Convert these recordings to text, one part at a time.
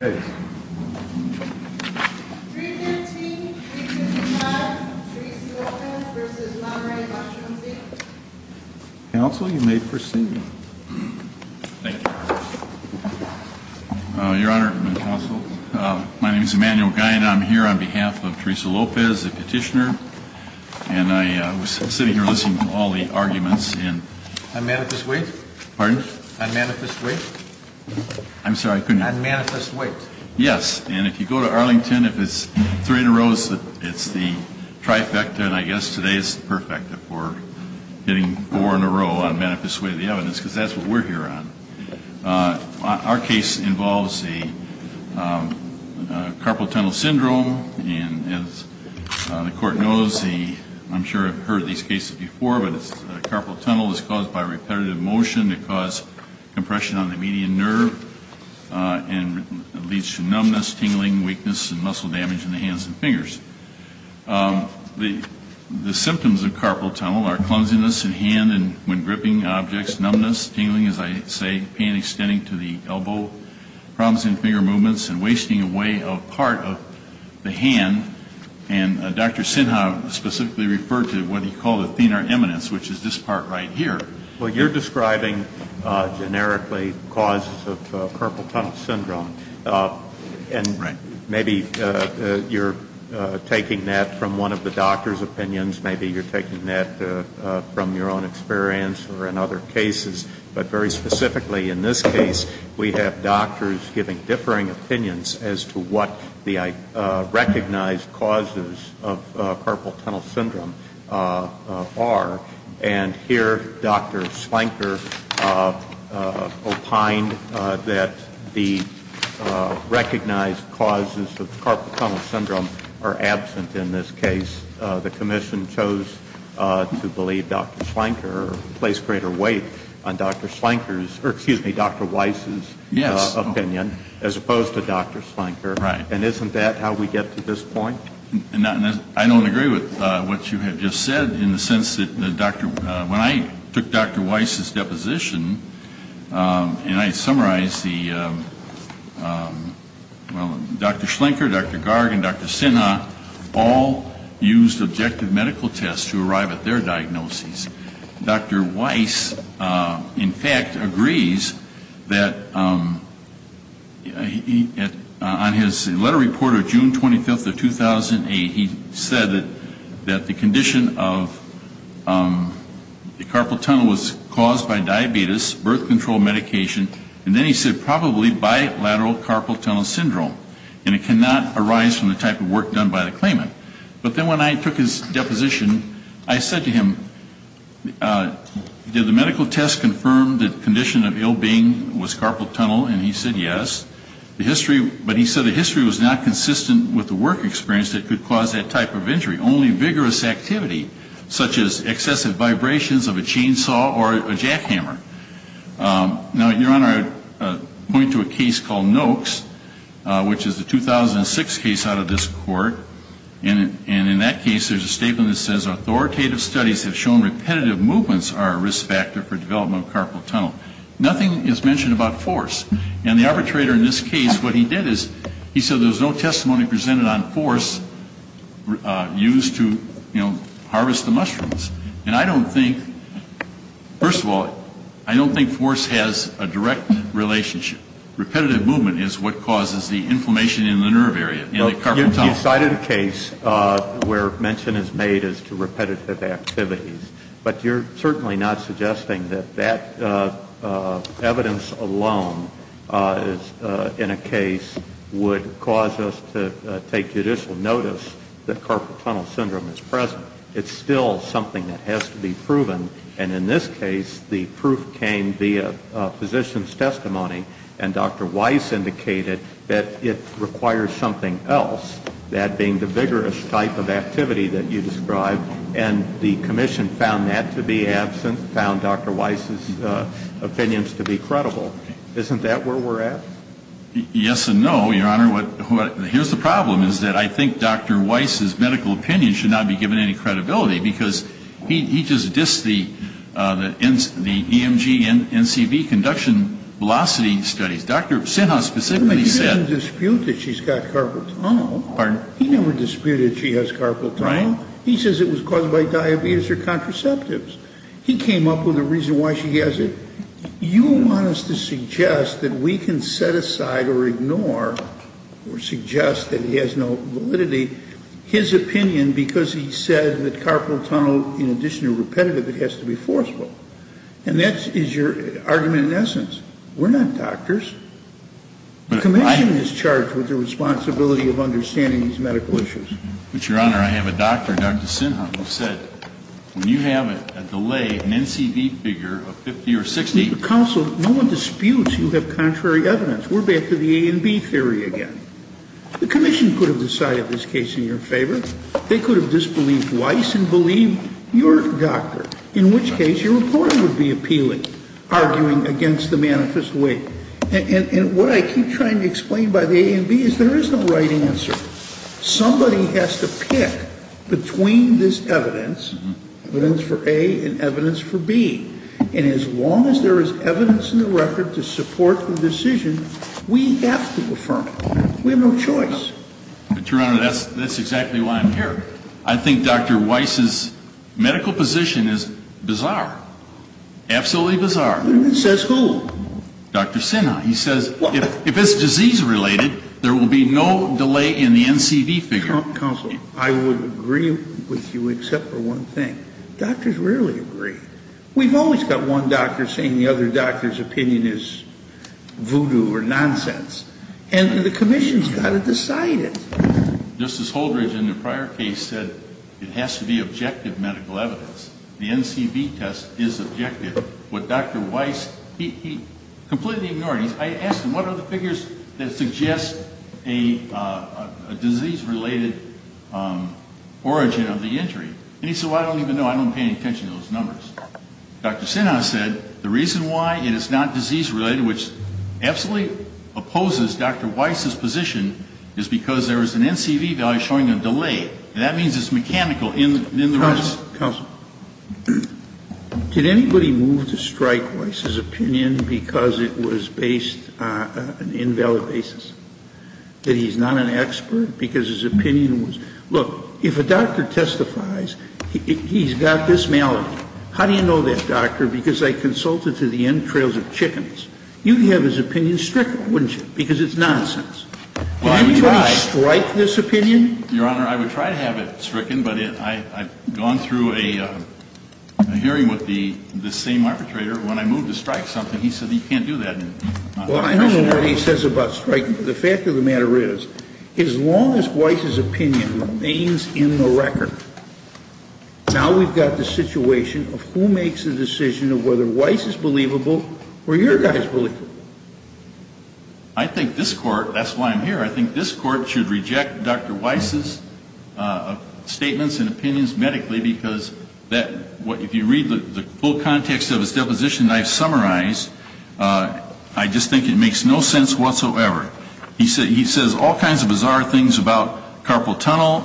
315, 355, Teresa Lopez v. Monterey, Washington, D.C. Counsel, you may proceed. Thank you, Your Honor. Your Honor and Counsel, my name is Emanuel Guy, and I'm here on behalf of Teresa Lopez, the petitioner. And I was sitting here listening to all the arguments, and... And Manifest Wait? Pardon? I'm sorry, I couldn't hear you. On Manifest Wait? Yes. And if you go to Arlington, if it's three in a row, it's the trifecta. And I guess today is perfect for getting four in a row on Manifest Wait, the evidence. Because that's what we're here on. Our case involves a carpal tunnel syndrome. And as the Court knows, I'm sure I've heard these cases before, but carpal tunnel is caused by repetitive motion. It caused compression on the median nerve. And it leads to numbness, tingling, weakness, and muscle damage in the hands and fingers. The symptoms of carpal tunnel are clumsiness in hand and when gripping objects, numbness, tingling, as I say, pain extending to the elbow, problems in finger movements, and wasting away of part of the hand. And Dr. Sinha specifically referred to what he called a thenar eminence, which is this part right here. Well, you're describing generically causes of carpal tunnel syndrome. Right. And maybe you're taking that from one of the doctor's opinions. Maybe you're taking that from your own experience or in other cases. But very specifically in this case, we have doctors giving differing opinions as to what the recognized causes of carpal tunnel syndrome are. And here Dr. Slanker opined that the recognized causes of carpal tunnel syndrome are absent in this case. The commission chose to believe Dr. Slanker or place greater weight on Dr. Slanker's, or excuse me, Dr. Weiss's opinion. Yes. As opposed to Dr. Slanker. Right. And isn't that how we get to this point? I don't agree with what you have just said in the sense that when I took Dr. Weiss's deposition and I summarized the, well, Dr. Slanker, Dr. Garg, and Dr. Sinha all used objective medical tests to arrive at their diagnoses. Dr. Weiss, in fact, agrees that on his letter reported June 25th of 2008, he said that the condition of the carpal tunnel was caused by diabetes, birth control medication, and then he said probably bilateral carpal tunnel syndrome. And it cannot arise from the type of work done by the claimant. But then when I took his deposition, I said to him, did the medical test confirm the condition of ill being was carpal tunnel? And he said yes. The history, but he said the history was not consistent with the work experience that could cause that type of injury. Only vigorous activity such as excessive vibrations of a chainsaw or a jackhammer. Now, Your Honor, I point to a case called Noakes, which is a 2006 case out of this court. And in that case, there's a statement that says authoritative studies have shown repetitive movements are a risk factor for development of carpal tunnel. Nothing is mentioned about force. And the arbitrator in this case, what he did is he said there was no testimony presented on force used to, you know, harvest the mushrooms. And I don't think, first of all, I don't think force has a direct relationship. Repetitive movement is what causes the inflammation in the nerve area in the carpal tunnel. You cited a case where mention is made as to repetitive activities. But you're certainly not suggesting that that evidence alone in a case would cause us to take judicial notice that carpal tunnel syndrome is present. It's still something that has to be proven. And in this case, the proof came via physician's testimony. And Dr. Weiss indicated that it requires something else, that being the vigorous type of activity that you described. And the commission found that to be absent, found Dr. Weiss' opinions to be credible. Isn't that where we're at? Yes and no, Your Honor. Here's the problem, is that I think Dr. Weiss' medical opinion should not be given any credibility, because he just dissed the EMG and NCV conduction velocity studies. Dr. Sinha specifically said — He didn't dispute that she's got carpal tunnel. Pardon? He never disputed she has carpal tunnel. He says it was caused by diabetes or contraceptives. He came up with a reason why she has it. You want us to suggest that we can set aside or ignore or suggest that he has no validity, his opinion because he said that carpal tunnel, in addition to repetitive, it has to be forceful. And that is your argument in essence. We're not doctors. The commission is charged with the responsibility of understanding these medical issues. But, Your Honor, I have a doctor, Dr. Sinha, who said, when you have a delay, an NCV figure of 50 or 60 — Counsel, no one disputes you have contrary evidence. We're back to the A and B theory again. The commission could have decided this case in your favor. They could have disbelieved Weiss and believed your doctor, in which case your reporter would be appealing, arguing against the manifest weight. And what I keep trying to explain by the A and B is there is no right answer. Somebody has to pick between this evidence, evidence for A and evidence for B. And as long as there is evidence in the record to support the decision, we have to affirm it. We have no choice. But, Your Honor, that's exactly why I'm here. I think Dr. Weiss's medical position is bizarre, absolutely bizarre. Says who? Dr. Sinha. He says if it's disease-related, there will be no delay in the NCV figure. Counsel, I would agree with you except for one thing. Doctors rarely agree. We've always got one doctor saying the other doctor's opinion is voodoo or nonsense. And the commission has got to decide it. Justice Holdred, in the prior case, said it has to be objective medical evidence. The NCV test is objective. With Dr. Weiss, he completely ignored it. I asked him, what are the figures that suggest a disease-related origin of the injury? And he said, well, I don't even know. I don't pay any attention to those numbers. Dr. Sinha said the reason why it is not disease-related, which absolutely opposes Dr. Weiss's position, is because there is an NCV value showing a delay. And that means it's mechanical in the risk. Counsel, did anybody move to strike Weiss's opinion because it was based on an invalid basis? That he's not an expert because his opinion was? Look, if a doctor testifies, he's got this malady. How do you know that, doctor? Because I consulted to the entrails of chickens. You'd have his opinion stricken, wouldn't you? Because it's nonsense. Anybody strike this opinion? Your Honor, I would try to have it stricken, but I've gone through a hearing with the same arbitrator. When I moved to strike something, he said you can't do that. Well, I don't know what he says about striking. The fact of the matter is, as long as Weiss's opinion remains in the record, now we've got the situation of who makes the decision of whether Weiss is believable or your guy is believable. I think this Court, that's why I'm here, I think this Court should reject Dr. Weiss's statements and opinions medically because if you read the full context of his deposition that I've summarized, I just think it makes no sense whatsoever. He says all kinds of bizarre things about carpal tunnel.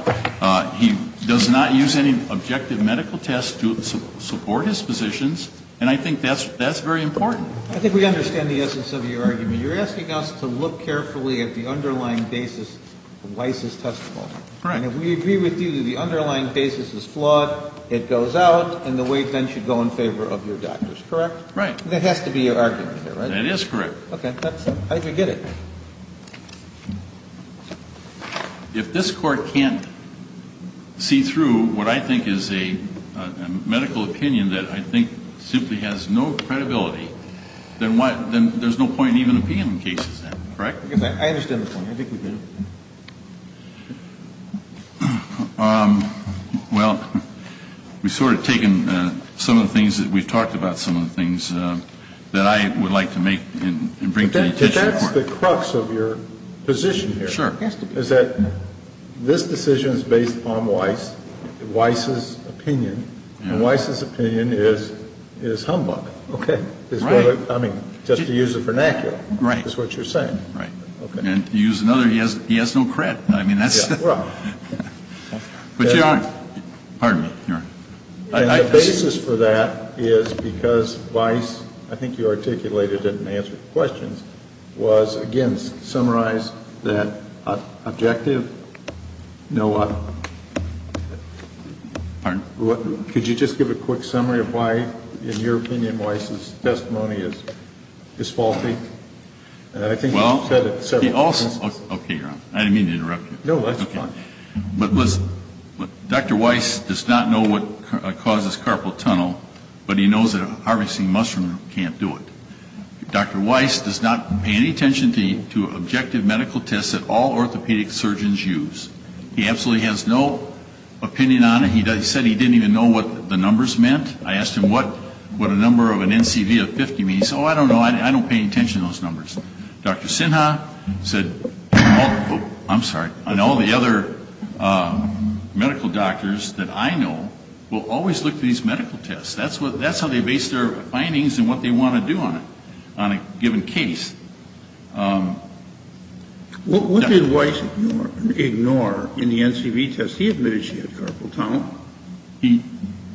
He does not use any objective medical tests to support his positions. And I think that's very important. I think we understand the essence of your argument. You're asking us to look carefully at the underlying basis of Weiss's testimony. Correct. And if we agree with you that the underlying basis is flawed, it goes out, and the weight then should go in favor of your doctors, correct? Right. There has to be an argument here, right? That is correct. Okay. I can get it. If this Court can't see through what I think is a medical opinion that I think simply has no credibility, then there's no point in even opinion cases, correct? I understand the point. I think we do. Well, we've sort of taken some of the things that we've talked about, some of the things that I would like to make and bring to the attention of the Court. But that's the crux of your position here. Sure. It has to be. Is that this decision is based upon Weiss, Weiss's opinion, and Weiss's opinion is humbug. Okay. Right. I mean, just to use the vernacular is what you're saying. Right. And to use another, he has no cred. I mean, that's. But Your Honor, pardon me, Your Honor. The basis for that is because Weiss, I think you articulated it in answer to questions, was, again, summarize that objective. No. Pardon? Could you just give a quick summary of why, in your opinion, Weiss's testimony is faulty? I think you've said it several times. Okay, Your Honor. I didn't mean to interrupt you. No, that's fine. But listen, Dr. Weiss does not know what causes carpal tunnel, but he knows that a harvesting mushroom can't do it. Dr. Weiss does not pay any attention to objective medical tests that all orthopedic surgeons use. He absolutely has no opinion on it. He said he didn't even know what the numbers meant. I asked him what a number of an NCV of 50 means. He said, oh, I don't know. I don't pay any attention to those numbers. Dr. Sinha said, I'm sorry, and all the other medical doctors that I know will always look for these medical tests. That's how they base their findings and what they want to do on it, on a given case. What did Weiss ignore in the NCV test? He admitted she had carpal tunnel.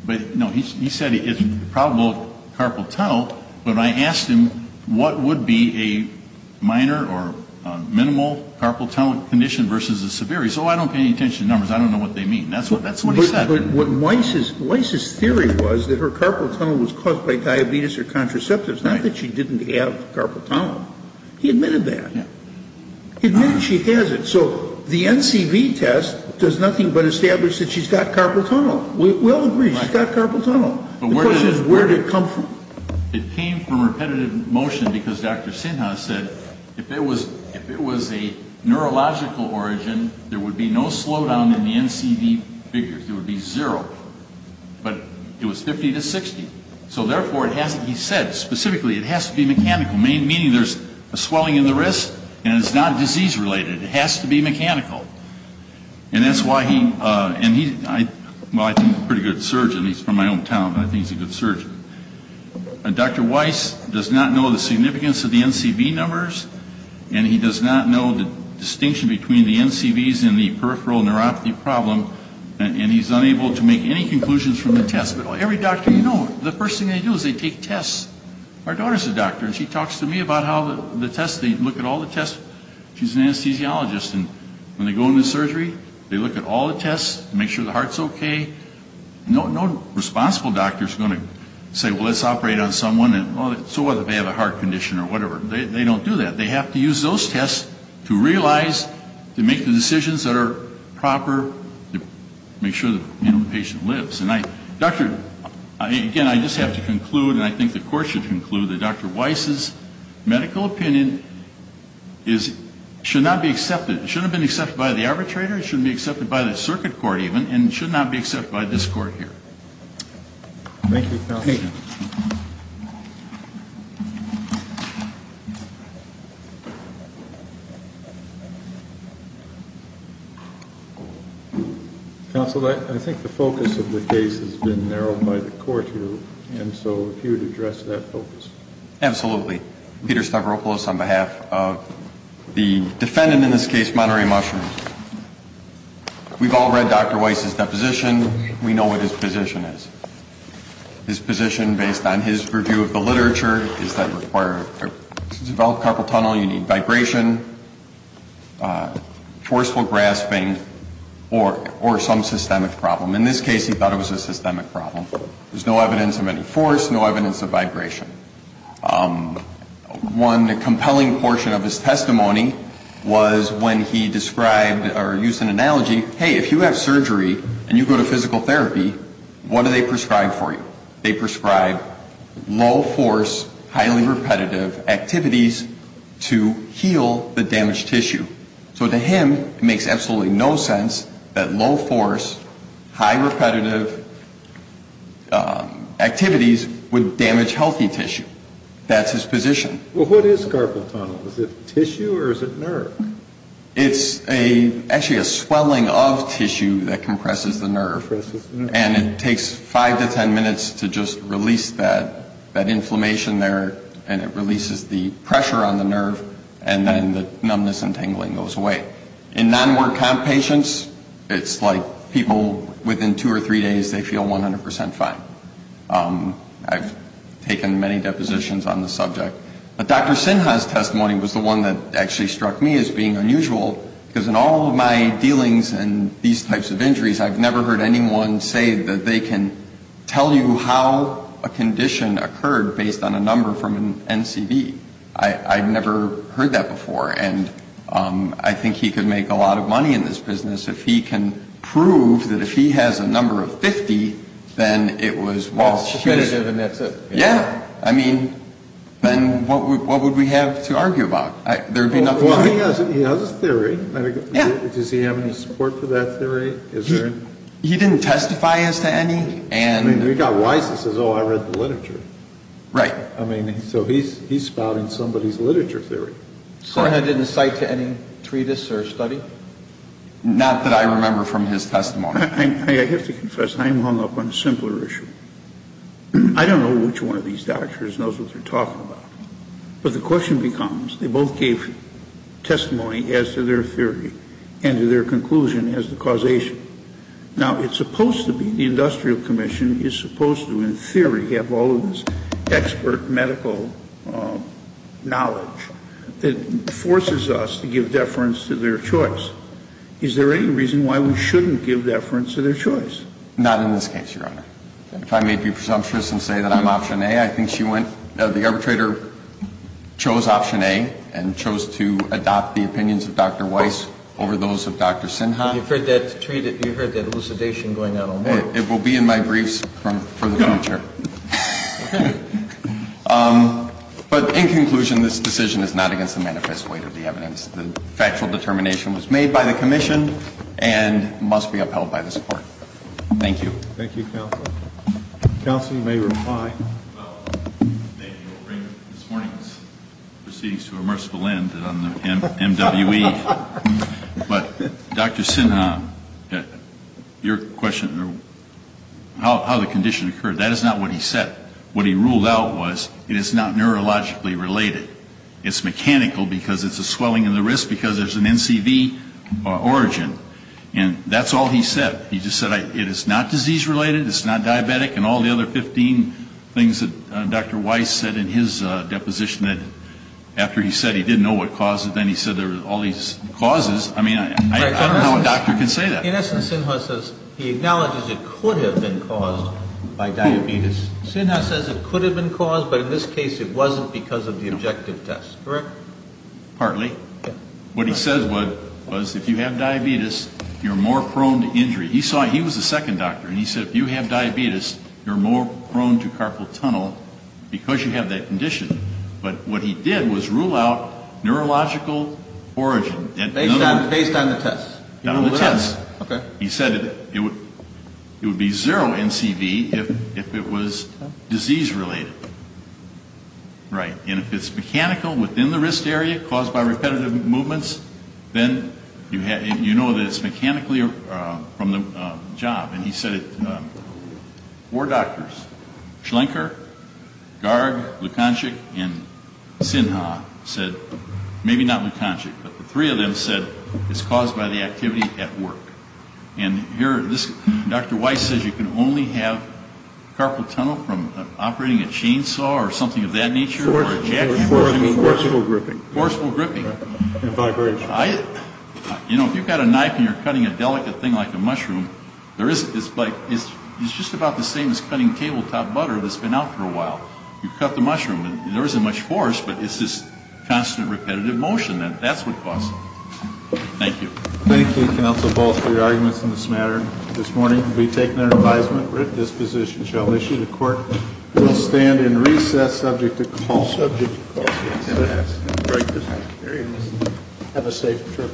But, no, he said it's probable carpal tunnel, but I asked him what would be a minor or minimal carpal tunnel condition versus a severe. He said, oh, I don't pay any attention to numbers. I don't know what they mean. That's what he said. Weiss's theory was that her carpal tunnel was caused by diabetes or contraceptives, not that she didn't have carpal tunnel. He admitted that. He admitted she has it. So the NCV test does nothing but establish that she's got carpal tunnel. We all agree she's got carpal tunnel. The question is where did it come from? It came from repetitive motion because Dr. Sinha said if it was a neurological origin, there would be no slowdown in the NCV figures. It would be zero. But it was 50 to 60. So, therefore, he said specifically it has to be mechanical, meaning there's a swelling in the wrist and it's not disease-related. It has to be mechanical. And that's why he – well, I think he's a pretty good surgeon. He's from my hometown, and I think he's a good surgeon. Dr. Weiss does not know the significance of the NCV numbers, and he does not know the distinction between the NCVs and the peripheral neuropathy problem, and he's unable to make any conclusions from the test. But every doctor you know, the first thing they do is they take tests. Our daughter's a doctor, and she talks to me about how the tests, they look at all the tests. She's an anesthesiologist, and when they go into surgery, they look at all the tests, make sure the heart's okay. No responsible doctor is going to say, well, let's operate on someone, so what if they have a heart condition or whatever. They don't do that. They have to use those tests to realize, to make the decisions that are proper, to make sure the patient lives. Again, I just have to conclude, and I think the Court should conclude, that Dr. Weiss's medical opinion should not be accepted. It shouldn't have been accepted by the arbitrator. It shouldn't be accepted by the circuit court even, and it should not be accepted by this Court here. Thank you, Counsel. Counsel, I think the focus of the case has been narrowed by the Court here, and so if you would address that focus. Absolutely. Peter Stavropoulos on behalf of the defendant in this case, Monterey Mushrooms. We've all read Dr. Weiss's deposition. We know what his position is. His position, based on his review of the literature, is that to develop carpal tunnel, you need vibration, forceful grasping, or some systemic problem. In this case, he thought it was a systemic problem. There's no evidence of any force, no evidence of vibration. One compelling portion of his testimony was when he described, or used an analogy, hey, if you have surgery and you go to physical therapy, what do they prescribe for you? They prescribe low force, highly repetitive activities to heal the damaged tissue. So to him, it makes absolutely no sense that low force, high repetitive activities would damage healthy tissue. That's his position. Well, what is carpal tunnel? Is it tissue or is it nerve? It's actually a swelling of tissue that compresses the nerve. And it takes five to ten minutes to just release that inflammation there, and it releases the pressure on the nerve, and then the numbness and tingling goes away. In non-workout patients, it's like people within two or three days, they feel 100 percent fine. I've taken many depositions on the subject. But Dr. Sinha's testimony was the one that actually struck me as being unusual, because in all of my dealings and these types of injuries, I've never heard anyone say that they can tell you how a condition occurred based on a number from an NCB. I've never heard that before. And I think he could make a lot of money in this business if he can prove that if he has a number of 50, then it was well. Competitive and that's it. Yeah. I mean, then what would we have to argue about? There would be nothing wrong. Well, he has a theory. Yeah. Does he have any support for that theory? He didn't testify as to any. I mean, he got wise and says, oh, I read the literature. Right. I mean, so he's spouting somebody's literature theory. Sinha didn't cite to any treatise or study? Not that I remember from his testimony. I have to confess, I'm hung up on a simpler issue. I don't know which one of these doctors knows what they're talking about. But the question becomes, they both gave testimony as to their theory and to their conclusion as the causation. Now, it's supposed to be the Industrial Commission is supposed to in theory have all of this expert medical knowledge that forces us to give deference to their choice. Is there any reason why we shouldn't give deference to their choice? Not in this case, Your Honor. If I may be presumptuous and say that I'm option A, I think she went, the arbitrator chose option A and chose to adopt the opinions of Dr. Weiss over those of Dr. Sinha. You've heard that elucidation going on all morning. It will be in my briefs for the future. But in conclusion, this decision is not against the manifest weight of the evidence. The factual determination was made by the Commission and must be upheld by this Court. Thank you. Thank you, Counselor. Counsel, you may reply. Thank you. I'll bring this morning's proceedings to a merciful end on the MWE. But Dr. Sinha, your question, how the condition occurred, that is not what he said. What he ruled out was it is not neurologically related. It's mechanical because it's a swelling in the wrist because there's an NCV origin. And that's all he said. He just said it is not disease related. It's not diabetic. And all the other 15 things that Dr. Weiss said in his deposition that after he said he didn't know what caused it, then he said there were all these causes. I mean, I don't know how a doctor can say that. In essence, Sinha says he acknowledges it could have been caused by diabetes. Sinha says it could have been caused, but in this case it wasn't because of the objective test. Correct? Partly. What he says was if you have diabetes, you're more prone to injury. He was the second doctor, and he said if you have diabetes, you're more prone to carpal tunnel because you have that condition. But what he did was rule out neurological origin. Based on the test. On the test. Okay. He said it would be zero NCV if it was disease related. Right. And if it's mechanical within the wrist area caused by repetitive movements, then you know that it's mechanically from the job. And he said four doctors, Schlenker, Garg, Lukanchik, and Sinha said maybe not Lukanchik, but the three of them said it's caused by the activity at work. And here, Dr. Weiss says you can only have carpal tunnel from operating a chainsaw or something of that nature. Forceful gripping. Forceful gripping. And vibration. You know, if you've got a knife and you're cutting a delicate thing like a mushroom, it's just about the same as cutting tabletop butter that's been out for a while. You cut the mushroom, and there isn't much force, but it's this constant repetitive motion. That's what caused it. Thank you. Thank you, counsel, both, for your arguments in this matter. This morning we'll be taking our advisement. We're at disposition. We shall issue the court. We will stand in recess subject to call. Subject to call. Yes. Have a safe trip.